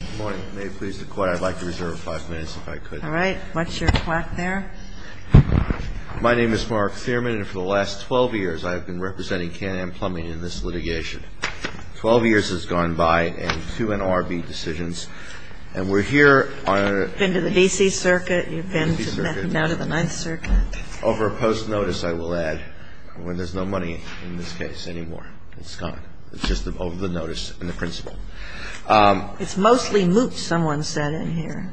Good morning. May it please the court, I'd like to reserve five minutes if I could. All right. What's your clock there? My name is Mark Thierman, and for the last 12 years I have been representing Can-Am Plumbing in this litigation. Twelve years has gone by, and two NRB decisions, and we're here on a You've been to the D.C. Circuit. You've been to the 9th Circuit. Over a post-notice, I will add, where there's no money in this case anymore. It's gone. It's just over the notice and the principle. It's mostly moot, someone said in here,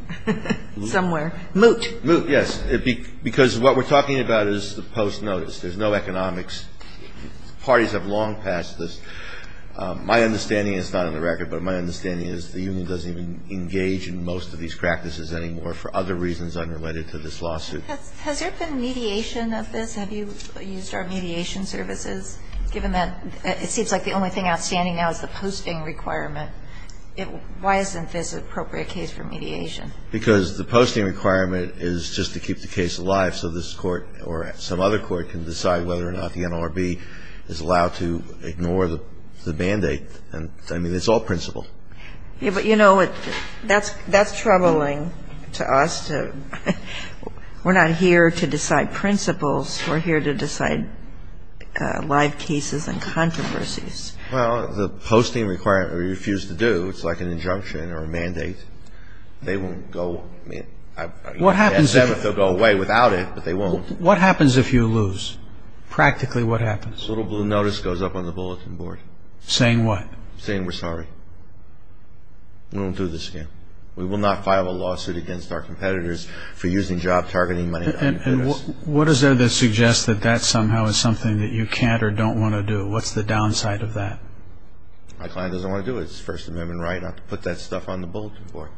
somewhere. Moot. Moot, yes, because what we're talking about is the post-notice. There's no economics. Parties have long passed this. My understanding is not on the record, but my understanding is the union doesn't even engage in most of these practices anymore for other reasons unrelated to this lawsuit. Has there been mediation of this? Have you used our mediation services, given that it seems like the only thing outstanding now is the posting requirement? Why isn't this an appropriate case for mediation? Because the posting requirement is just to keep the case alive so this court or some other court can decide whether or not the NRB is allowed to ignore the band-aid. I mean, it's all principle. But, you know, that's troubling to us. We're not here to decide principles. We're here to decide live cases and controversies. Well, the posting requirement, we refuse to do. It's like an injunction or a mandate. They won't go. What happens if... They'll go away without it, but they won't. What happens if you lose? Practically, what happens? This little blue notice goes up on the bulletin board. Saying what? Saying we're sorry. We won't do this again. We will not file a lawsuit against our competitors for using job-targeting money. And what is there that suggests that that somehow is something that you can't or don't want to do? What's the downside of that? My client doesn't want to do it. It's First Amendment right not to put that stuff on the bulletin board.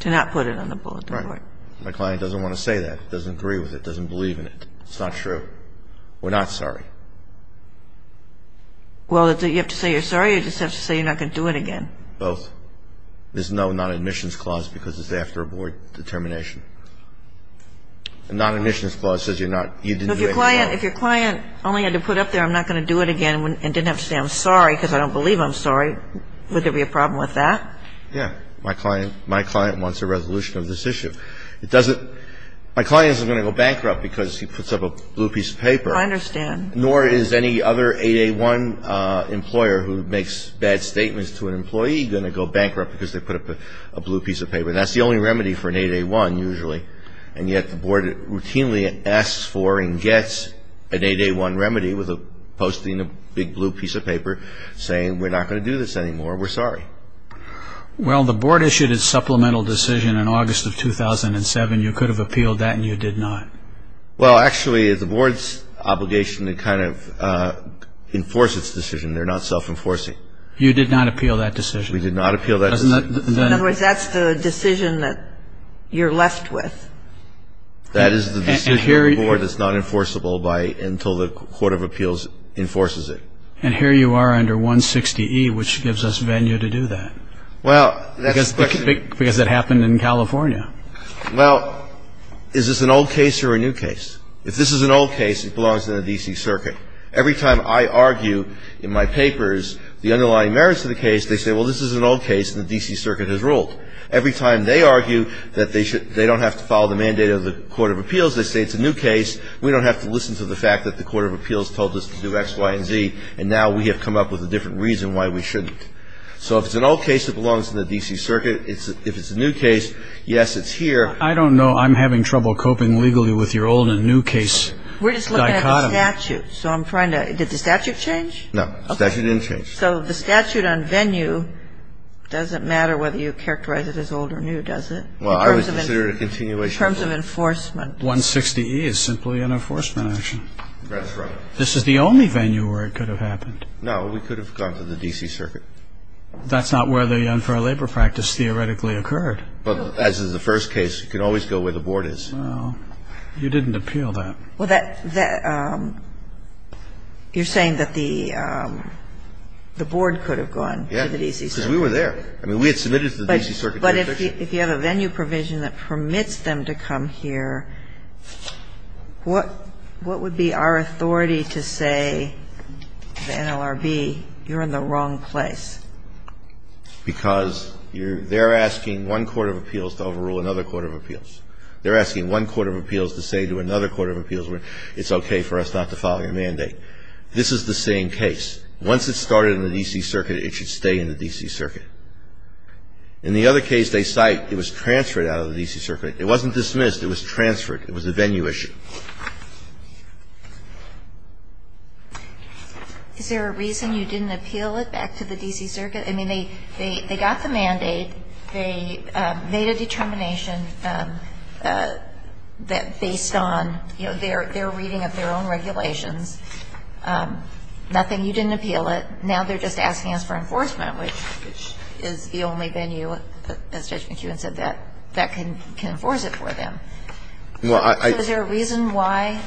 To not put it on the bulletin board. Right. My client doesn't want to say that, doesn't agree with it, doesn't believe in it. It's not true. We're not sorry. Well, you have to say you're sorry or you just have to say you're not going to do it again. Both. There's no non-admissions clause because it's after a board determination. A non-admissions clause says you're not... If your client only had to put up there I'm not going to do it again and didn't have to say I'm sorry because I don't believe I'm sorry, would there be a problem with that? Yeah. My client wants a resolution of this issue. It doesn't my client isn't going to go bankrupt because he puts up a blue piece of paper. I understand. Nor is any other 8A1 employer who makes bad statements to an employee going to go bankrupt because they put up a blue piece of paper. That's the only remedy for an 8A1 usually. And yet the board routinely asks for and gets an 8A1 remedy with posting a big blue piece of paper saying we're not going to do this anymore. We're sorry. Well, the board issued its supplemental decision in August of 2007. You could have appealed that and you did not. Well, actually the board's obligation to kind of enforce its decision. They're not self-enforcing. You did not appeal that decision. We did not appeal that decision. In other words, that's the decision that you're left with. That is the decision of the board that's not enforceable by until the court of appeals enforces it. And here you are under 160E, which gives us venue to do that. Well, that's the question. Because it happened in California. Well, is this an old case or a new case? If this is an old case, it belongs in the D.C. Circuit. Every time I argue in my papers the underlying merits of the case, they say, well, this is an old case and the D.C. Circuit has ruled. Every time they argue that they don't have to follow the mandate of the court of appeals, they say it's a new case. We don't have to listen to the fact that the court of appeals told us to do X, Y, and Z. And now we have come up with a different reason why we shouldn't. So if it's an old case, it belongs to the D.C. Circuit. If it's a new case, yes, it's here. I don't know. I'm having trouble coping legally with your old and new case dichotomy. We're just looking at the statute. So I'm trying to – did the statute change? No. The statute didn't change. So the statute on venue doesn't matter whether you characterize it as old or new, does it? Well, I would consider it a continuation rule. In terms of enforcement. 160E is simply an enforcement action. That's right. This is the only venue where it could have happened. No. We could have gone to the D.C. Circuit. That's not where the unfair labor practice theoretically occurred. But as is the first case, you can always go where the board is. Well, you didn't appeal that. Well, that – you're saying that the board could have gone to the D.C. Circuit. Yes, because we were there. I mean, we had submitted it to the D.C. Circuit jurisdiction. But if you have a venue provision that permits them to come here, what would be our authority to say to the NLRB, you're in the wrong place? Because they're asking one court of appeals to overrule another court of appeals. They're asking one court of appeals to say to another court of appeals, it's okay for us not to follow your mandate. This is the same case. Once it started in the D.C. Circuit, it should stay in the D.C. Circuit. In the other case they cite, it was transferred out of the D.C. Circuit. It wasn't dismissed. It was transferred. It was a venue issue. Is there a reason you didn't appeal it back to the D.C. Circuit? I mean, they got the mandate. They made a determination that based on, you know, their reading of their own regulations, nothing, you didn't appeal it. Now they're just asking us for enforcement, which is the only venue, as Judge McEwen said, that can enforce it for them. So is there a reason why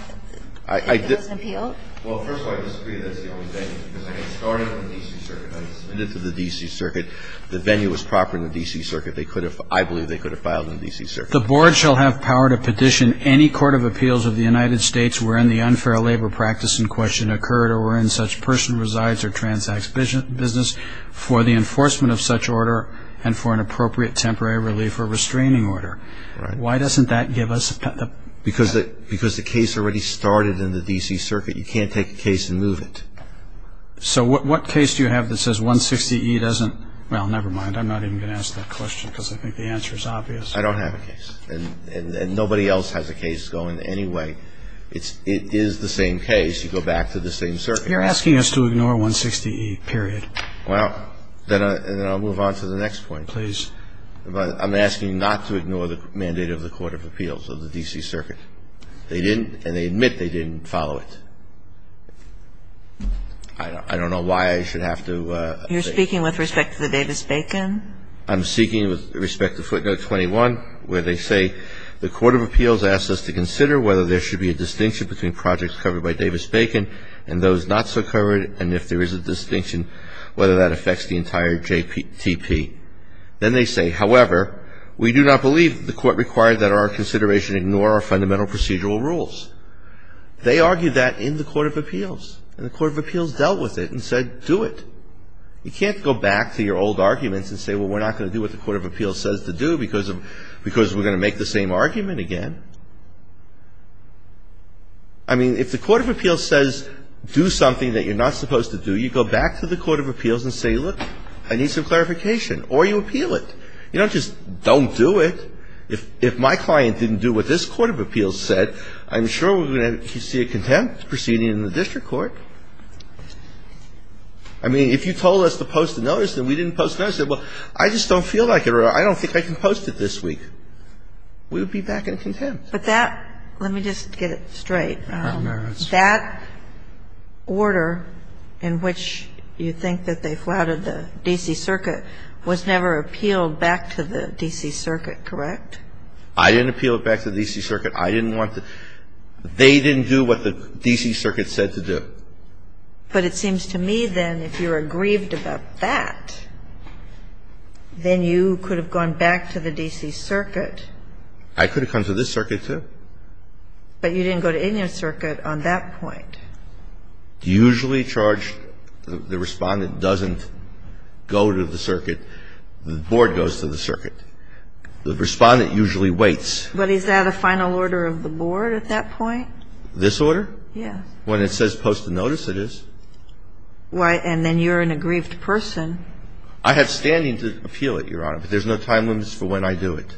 it wasn't appealed? Well, first of all, I disagree that it's the only venue, because it started in the D.C. Circuit. I submitted it to the D.C. Circuit. The venue was proper in the D.C. Circuit. They could have, I believe they could have filed in the D.C. Circuit. The board shall have power to petition any court of appeals of the United States wherein the unfair labor practice in question occurred or wherein such person resides or transacts business for the enforcement of such order and for an appropriate temporary relief or restraining order. Why doesn't that give us? Because the case already started in the D.C. Circuit. You can't take a case and move it. So what case do you have that says 160E doesn't? Well, never mind. I'm not even going to ask that question, because I think the answer is obvious. I don't have a case. And nobody else has a case going anyway. It is the same case. You go back to the same circuit. You're asking us to ignore 160E, period. Well, then I'll move on to the next point. Please. I'm asking not to ignore the mandate of the court of appeals of the D.C. Circuit. They didn't, and they admit they didn't follow it. I don't know why I should have to say. You're speaking with respect to the Davis-Bacon? I'm speaking with respect to footnote 21, where they say, the court of appeals asks us to consider whether there should be a distinction between projects covered by Davis-Bacon and those not so covered, and if there is a distinction, whether that affects the entire JPTP. Then they say, however, we do not believe the court required that our consideration ignore our fundamental procedural rules. They argued that in the court of appeals. And the court of appeals dealt with it and said, do it. You can't go back to your old arguments and say, well, we're not going to do what the court of appeals says to do, because we're going to make the same argument again. I mean, if the court of appeals says, do something that you're not supposed to do, you go back to the court of appeals and say, look, I need some clarification. Or you appeal it. You don't just, don't do it. If my client didn't do what this court of appeals said, I'm sure we're going to see a contempt proceeding in the district court. I mean, if you told us to post a notice and we didn't post a notice, say, well, I just don't feel like it or I don't think I can post it this week, we would be back in contempt. But that, let me just get it straight. That order in which you think that they flouted the D.C. Circuit was never appealed back to the D.C. Circuit, correct? I didn't appeal it back to the D.C. Circuit. I didn't want to. They didn't do what the D.C. Circuit said to do. But it seems to me, then, if you're aggrieved about that, then you could have gone back to the D.C. Circuit. I could have come to this circuit, too. But you didn't go to any other circuit on that point. Usually charged, the Respondent doesn't go to the circuit. The board goes to the circuit. The Respondent usually waits. But is that a final order of the board at that point? This order? Yes. When it says post a notice, it is. And then you're an aggrieved person. I have standing to appeal it, Your Honor. But there's no time limits for when I do it.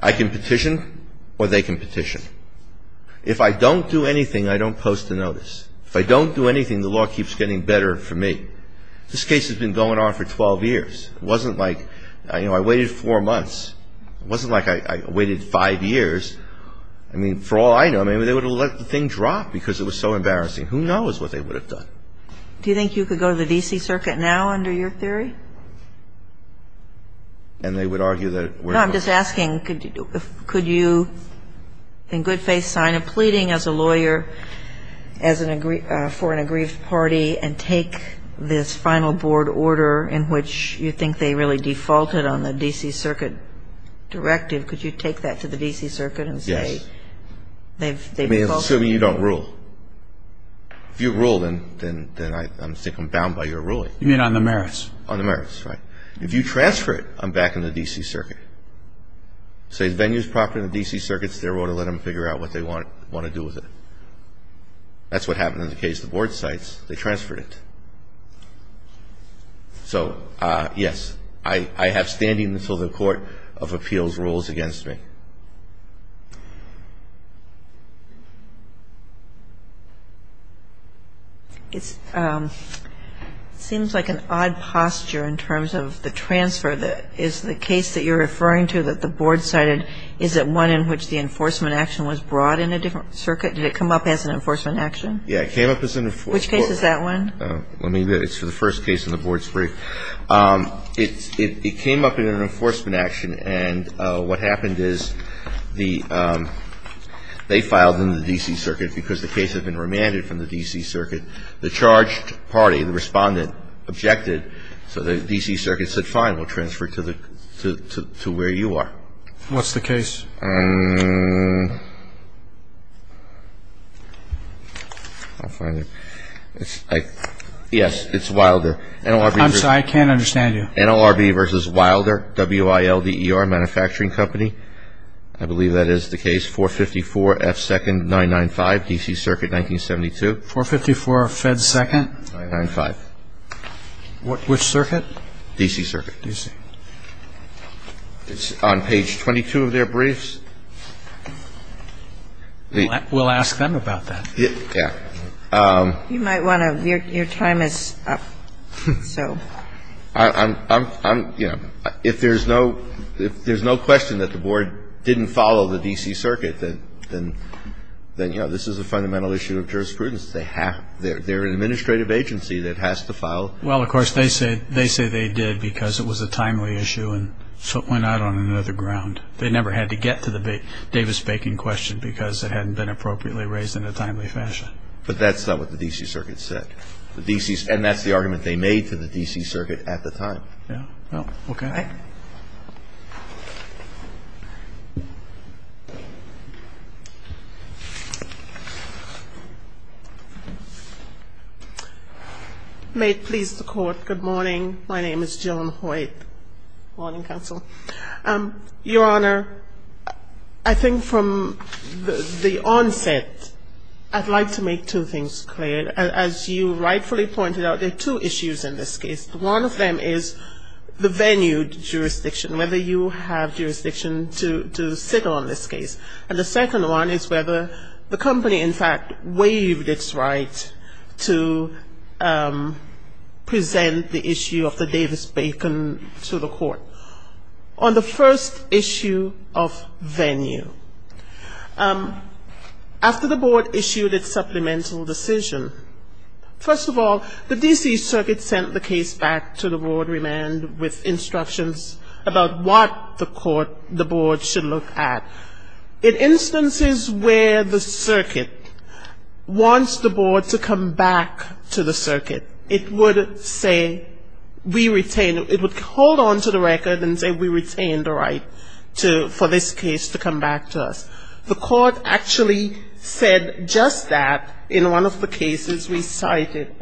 I can petition or they can petition. If I don't do anything, I don't post a notice. If I don't do anything, the law keeps getting better for me. This case has been going on for 12 years. It wasn't like, you know, I waited four months. It wasn't like I waited five years. I mean, for all I know, maybe they would have let the thing drop because it was so embarrassing. Who knows what they would have done. Do you think you could go to the D.C. Circuit now under your theory? And they would argue that it wouldn't work. No, I'm just asking, could you in good faith sign a pleading as a lawyer for an aggrieved party and take this final board order in which you think they really defaulted on the D.C. Circuit directive? Could you take that to the D.C. Circuit and say they've defaulted? Yes. I mean, assuming you don't rule. If you rule, then I think I'm bound by your ruling. You mean on the merits? On the merits, right. If you transfer it, I'm back in the D.C. Circuit. Say the venue is proper in the D.C. Circuit, it's their order. Let them figure out what they want to do with it. That's what happened in the case of the board sites. They transferred it. So, yes, I have standing until the Court of Appeals rules against me. It seems like an odd posture in terms of the transfer. Is the case that you're referring to that the board cited, is it one in which the enforcement action was brought in a different circuit? Did it come up as an enforcement action? Yeah, it came up as an enforcement action. Which case is that one? Let me get it. It's the first case in the board's brief. It came up in an enforcement action. And what happened is they filed in the D.C. Circuit because the case had been remanded from the D.C. Circuit. The charged party, the respondent, objected. So the D.C. Circuit said, fine, we'll transfer it to where you are. What's the case? Yes, it's Wilder. I'm sorry. I can't understand you. NLRB versus Wilder, W-I-L-D-E-R Manufacturing Company. I believe that is the case. 454F2-995, D.C. Circuit, 1972. 454F2-995. Which circuit? D.C. Circuit. D.C. It's on page 22 of their brief. We'll ask them about that. Yeah. You might want to, your time is up, so. I'm, you know, if there's no question that the board didn't follow the D.C. Circuit, then, you know, this is a fundamental issue of jurisprudence. They're an administrative agency that has to file. Well, of course, they say they did because it was a timely issue and so it went out on another ground. They never had to get to the Davis-Bacon question because it hadn't been appropriately raised in a timely fashion. But that's not what the D.C. Circuit said. The D.C. And that's the argument they made to the D.C. Circuit at the time. Yeah. Well, okay. May it please the Court, good morning. My name is Joan Hoyt. Good morning, counsel. Your Honor, I think from the onset, I'd like to make two things clear. As you rightfully pointed out, there are two issues in this case. One of them is the venue jurisdiction, whether you have jurisdiction to sit on this case. And the second one is whether the company, in fact, waived its right to present the issue of the Davis-Bacon to the Court. On the first issue of venue, after the Board issued its supplemental decision, first of all, the D.C. Circuit sent the case back to the Board with instructions about what the Court, the Board, should look at. In instances where the Circuit wants the Board to come back to the Circuit, it would say we retain, it would hold on to the record and say we retain the right to, for this case to come back to us. The Court actually said just that in one of the cases we cited.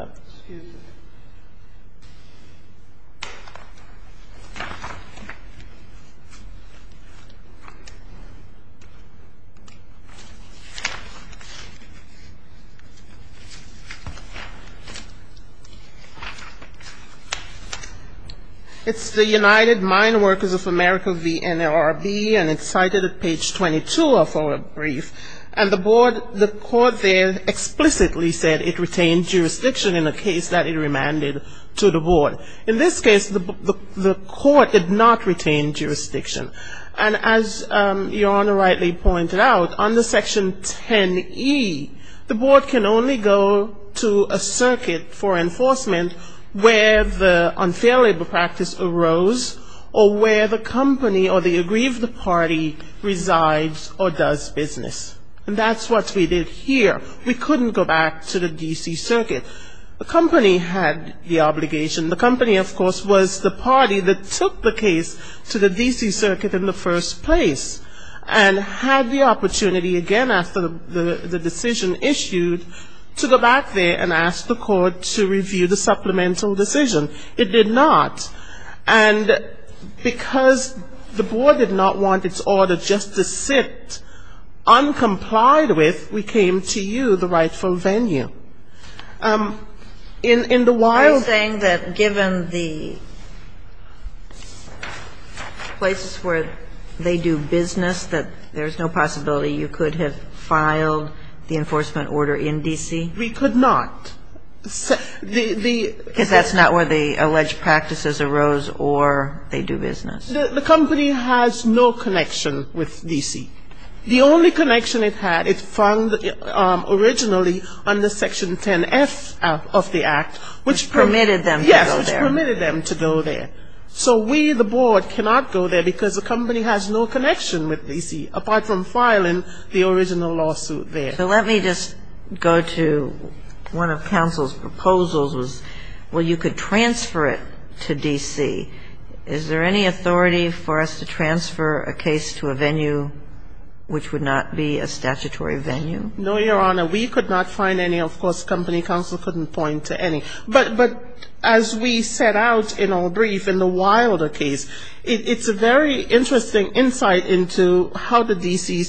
It's the United Mine Workers of America v. NLRB, and it's cited at page 22 of our brief. And the Board, the Court there explicitly said it retained jurisdiction in a case that it remanded to the Board. In this case, the Court did not retain jurisdiction. And as Your Honor rightly pointed out, under Section 10E, the Board can only go to a circuit for enforcement where the unfair labor practice arose or where the company or the agreed party resides or does business. And that's what we did here. We couldn't go back to the D.C. Circuit. We couldn't go to the D.C. Circuit in the first place and had the opportunity again after the decision issued to go back there and ask the Court to review the supplemental decision. It did not. And because the Board did not want its order just to sit uncomplied with, we came to you, the rightful venue. In the wild ---- I'm saying that given the places where they do business, that there's no possibility you could have filed the enforcement order in D.C.? We could not. Because that's not where the alleged practices arose or they do business. The company has no connection with D.C. The only connection it had, it found originally under Section 10F of the Act, which ---- Which permitted them to go there. Yes, which permitted them to go there. So we, the Board, cannot go there because the company has no connection with D.C. Is there an authority for us to transfer a case to a venue which would not be a statutory venue? No, Your Honor. We could not find any. Of course, company counsel couldn't point to any. But as we set out in our brief in the wilder case, it's a very interesting insight into how the D.C.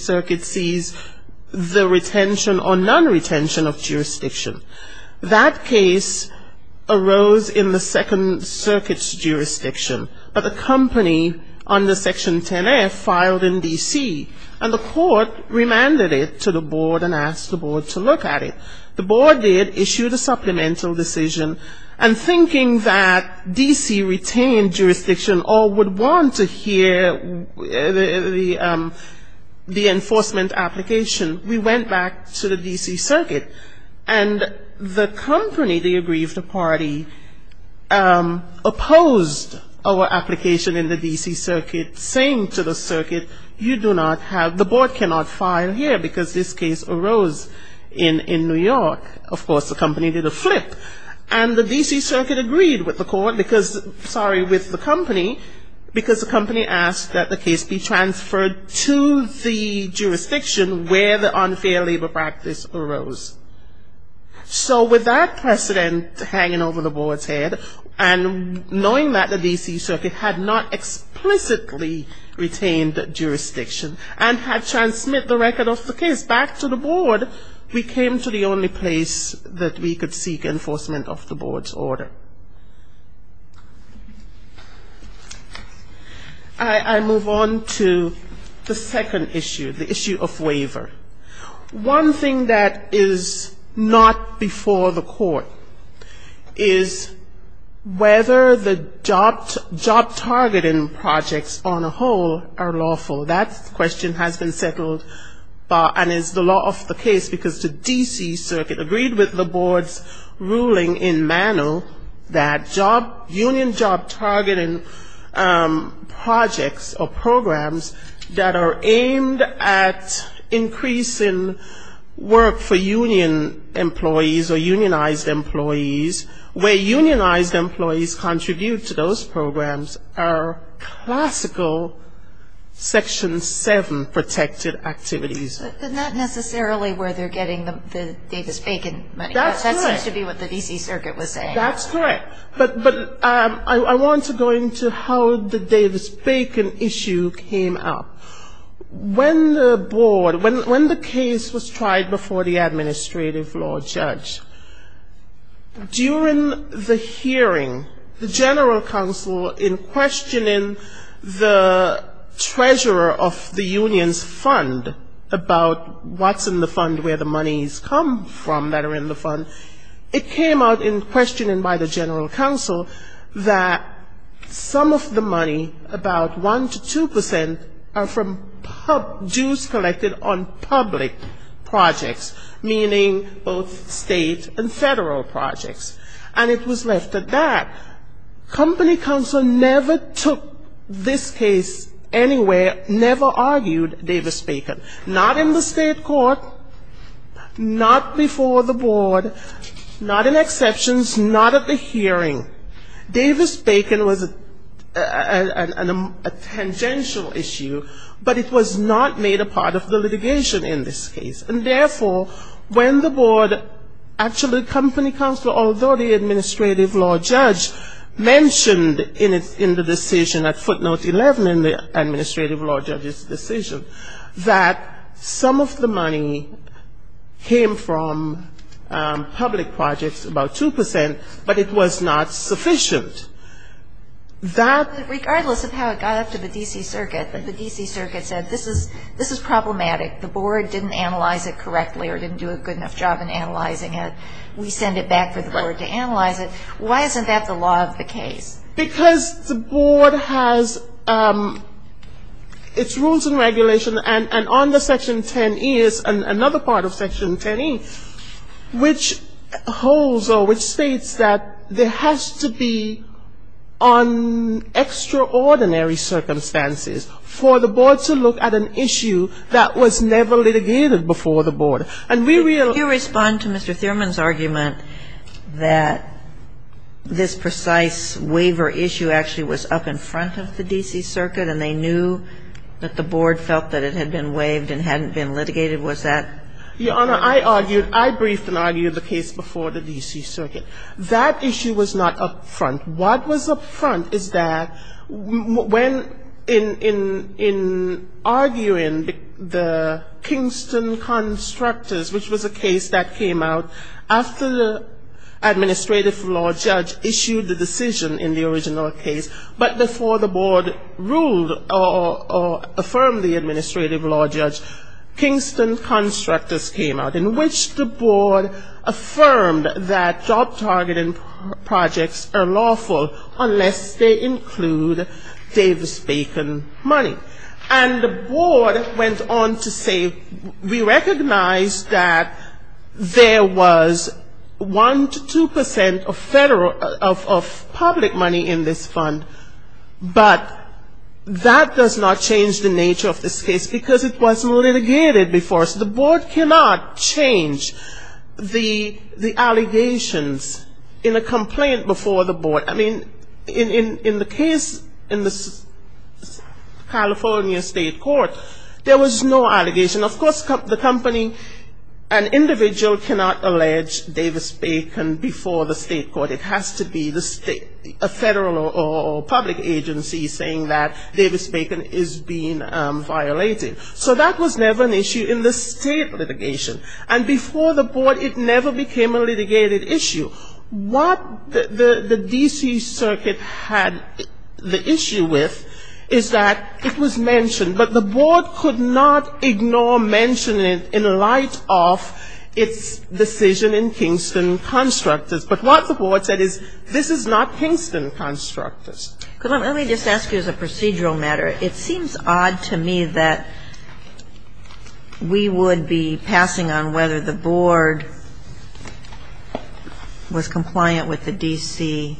company under Section 10F filed in D.C. And the court remanded it to the Board and asked the Board to look at it. The Board did, issued a supplemental decision, and thinking that D.C. retained jurisdiction or would want to hear the enforcement application, we went back to the D.C. circuit. And the company, the aggrieved party, opposed our application in the D.C. circuit, saying to the circuit, you do not have, the Board cannot file here because this case arose in New York. Of course, the company did a flip, and the D.C. circuit agreed with the court, sorry, with the company, because the company asked that the case be transferred to the Board. So with that precedent hanging over the Board's head, and knowing that the D.C. circuit had not explicitly retained jurisdiction and had transmitted the record of the case back to the Board, we came to the only place that we could seek enforcement of the Board's order. I move on to the second issue, the issue of waiver. One thing that is not before the court is whether the job targeting projects on a whole are lawful. That question has been settled, and is the law of the case, because the D.C. circuit agreed with the Board's ruling in Mano that union job targeting projects or programs that are aimed at increasing work for union employees or unionized employees, where unionized employees contribute to those programs, are classical Section 7 protected activities. But not necessarily where they're getting the Davis-Bacon money, that seems to be what the D.C. circuit was saying. That's correct. But I want to go into how the Davis-Bacon issue came up. When the Board, when the case was tried before the administrative law judge, during the hearing, the general counsel in questioning the treasurer of the union's fund about what's in the fund, where the money's come from that are in the fund, it came out in questioning the treasurer of the fund, and it was determined by the general counsel that some of the money, about 1 to 2 percent, are from dues collected on public projects, meaning both state and federal projects. And it was left at that. Company counsel never took this case anywhere, never argued Davis-Bacon, not in the state court, not before the Board, not in the district court, not at the hearing. Davis-Bacon was a tangential issue, but it was not made a part of the litigation in this case. And therefore, when the Board actually, company counsel, although the administrative law judge mentioned in the decision, at footnote 11 in the administrative law judge's decision, that some of the money came from public projects, about 2 percent, but it was not sufficient. But regardless of how it got up to the D.C. Circuit, the D.C. Circuit said this is problematic. The Board didn't analyze it correctly or didn't do a good enough job in analyzing it. We send it back for the Board to analyze it. Why isn't that the law of the case? Because the Board has its rules and regulation, and on the Section 10E, another part of Section 10E, which holds or which holds states that there has to be on extraordinary circumstances for the Board to look at an issue that was never litigated before the Board. And we really ---- And did you respond to Mr. Thurman's argument that this precise waiver issue actually was up in front of the D.C. Circuit and they knew that the Board felt that it had been waived and hadn't been litigated? Was that ---- Your Honor, I argued, I briefed and argued the case before the D.C. Circuit. That issue was not up front. What was up front is that when, in arguing the Kingston Constructors, which was a case that came out after the administrative law judge issued the decision in the original case, but before the Board ruled or affirmed the administrative law judge, Kingston Constructors, the case that just came out in which the Board affirmed that job targeting projects are lawful unless they include Davis-Bacon money. And the Board went on to say we recognize that there was 1 to 2% of federal, of public money in this fund, but that does not change the nature of this case because it was not litigated before. So the Board cannot change the allegations in a complaint before the Board. I mean, in the case in the California State Court, there was no allegation. Of course, the company, an individual cannot allege Davis-Bacon before the State Court. It has to be a federal or public agency saying that this is being violated. So that was never an issue in the State litigation. And before the Board, it never became a litigated issue. What the D.C. Circuit had the issue with is that it was mentioned, but the Board could not ignore mentioning in light of its decision in Kingston Constructors. But what the Board said is this is not Kingston Constructors. But I'm going to just ask you as a procedural matter. It seems odd to me that we would be passing on whether the Board was compliant with the D.C.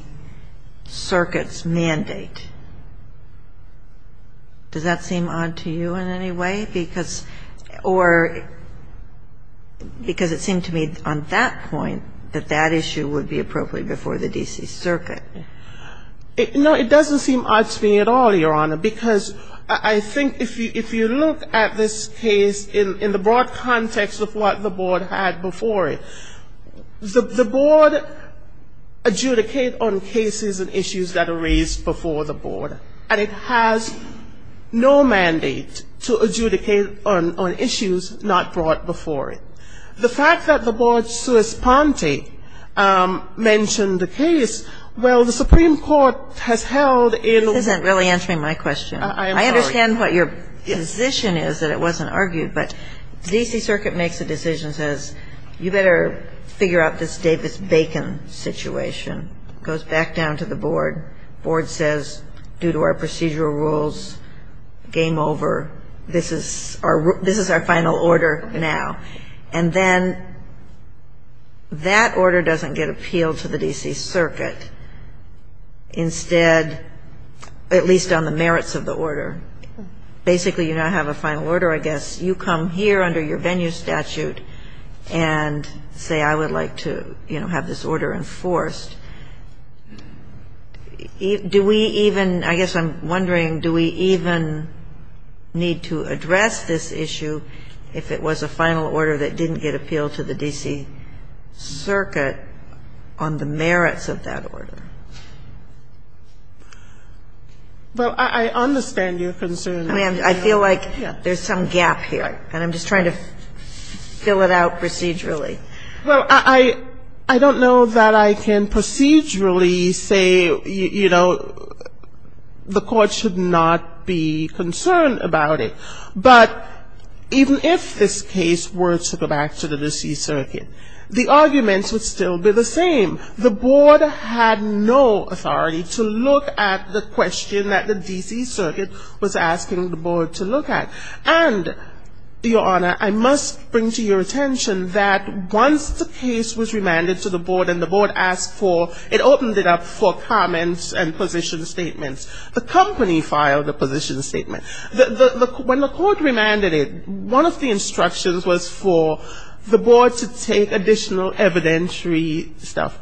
Circuit's mandate. Does that seem odd to you in any way? Because or because it seemed to me on that point that that issue would be appropriate before the D.C. Circuit. It doesn't seem odd to me at all, Your Honor, because I think if you look at this case in the broad context of what the Board had before it, the Board adjudicate on cases and issues that are raised before the Board. And it has no mandate to adjudicate on issues not brought before it. The fact that the Board's sui sponte mentioned the case, well, the Supreme Court has held in the This isn't really answering my question. I understand what your position is, that it wasn't argued. But the D.C. Circuit makes a decision, says you better figure out this Davis-Bacon situation. Goes back down to the Board. Board says, due to our procedural rules, game over. This is our final order now. And the D.C. Circuit says, you better And then that order doesn't get appealed to the D.C. Circuit. Instead, at least on the merits of the order, basically you now have a final order, I guess. You come here under your venue statute and say, I would like to, you know, have this order enforced. Do we even I guess I'm wondering, do we even need to address this issue if it was a final order that didn't get appealed to the D.C. Circuit on the merits of that order? Well, I understand your concern. I mean, I feel like there's some gap here. And I'm just trying to fill it out procedurally. Well, I don't know that I can procedurally say, you know, the Court should not be concerned about it. But even if this case were to go back to the D.C. Circuit, the arguments would still be the same. The Board had no authority to look at the question that the D.C. Circuit was asking the Board to look at. And, Your Honor, I must bring to your attention that once the case was remanded to the Board and the Board asked for, it opened it up for comments and position statements. The company filed a position statement. When the Court remanded it, one of the instructions was for the Board to take additional evidentiary stuff.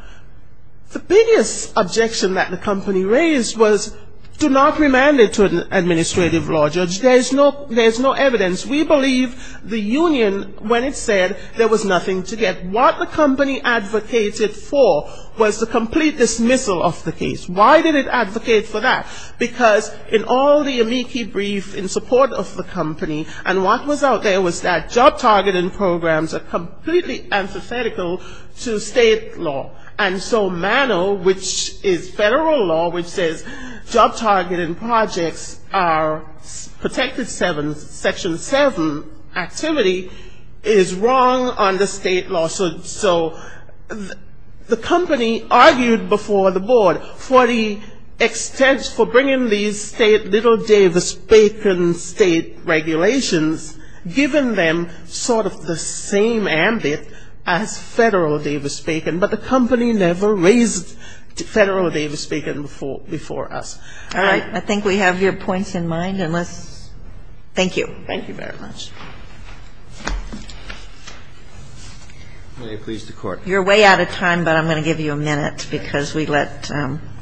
The biggest objection that the company raised was do not remand it to an administrative law judge. There's no evidence. We believe the union, when it said there was nothing to get, what the company advocated for was the complete dismissal of the case. Why did it advocate for that? Because in all the amici brief in support of the company, and what was out there was that job targeting programs are completely antithetical to state law. And so MANO, which is federal law, which says job targeting projects are protected section 7 activity, is wrong under state law. So the company argued before the Board for bringing these little Davis-Bacon state regulations, giving them sort of the same ambit as federal Davis-Bacon. But the company never raised federal Davis-Bacon before us. All right. I think we have your points in mind. Thank you. You're way out of time, but I'm going to give you a minute because we let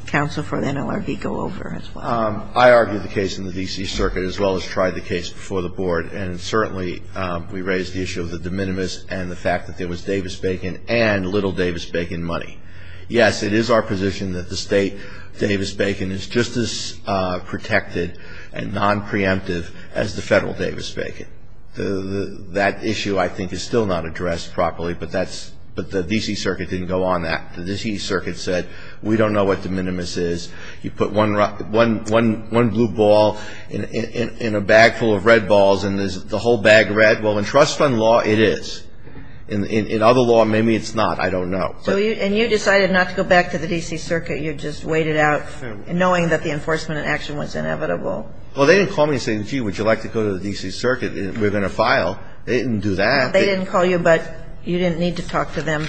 counsel for the NLRB go over as well. I argued the case in the D.C. Circuit as well as tried the case before the Board, and certainly we raised the issue of the de minimis and the fact that there was Davis-Bacon and little Davis-Bacon money. Yes, it is our position that the state Davis-Bacon is just as protected and nonpreemptive as the federal Davis-Bacon. That issue, I think, is still not addressed properly, but the D.C. Circuit didn't go on that. The D.C. Circuit said, we don't know what de minimis is. You put one blue ball in a bag full of red balls, and there's the whole bag red. Well, in trust fund law, it is. In other law, maybe it's not. I don't know. And you decided not to go back to the D.C. Circuit. You just waited out, knowing that the enforcement in action was inevitable. Well, they didn't call me and say, gee, would you like to go to the D.C. Circuit? We're going to file. They didn't do that. They didn't call you, but you didn't need to talk to them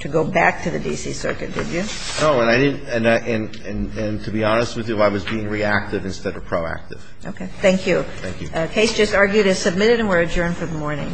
to go back to the D.C. Circuit, did you? No, and I didn't. And to be honest with you, I was being reactive instead of proactive. Okay. Thank you. Thank you. The case just argued is submitted, and we're adjourned for the morning.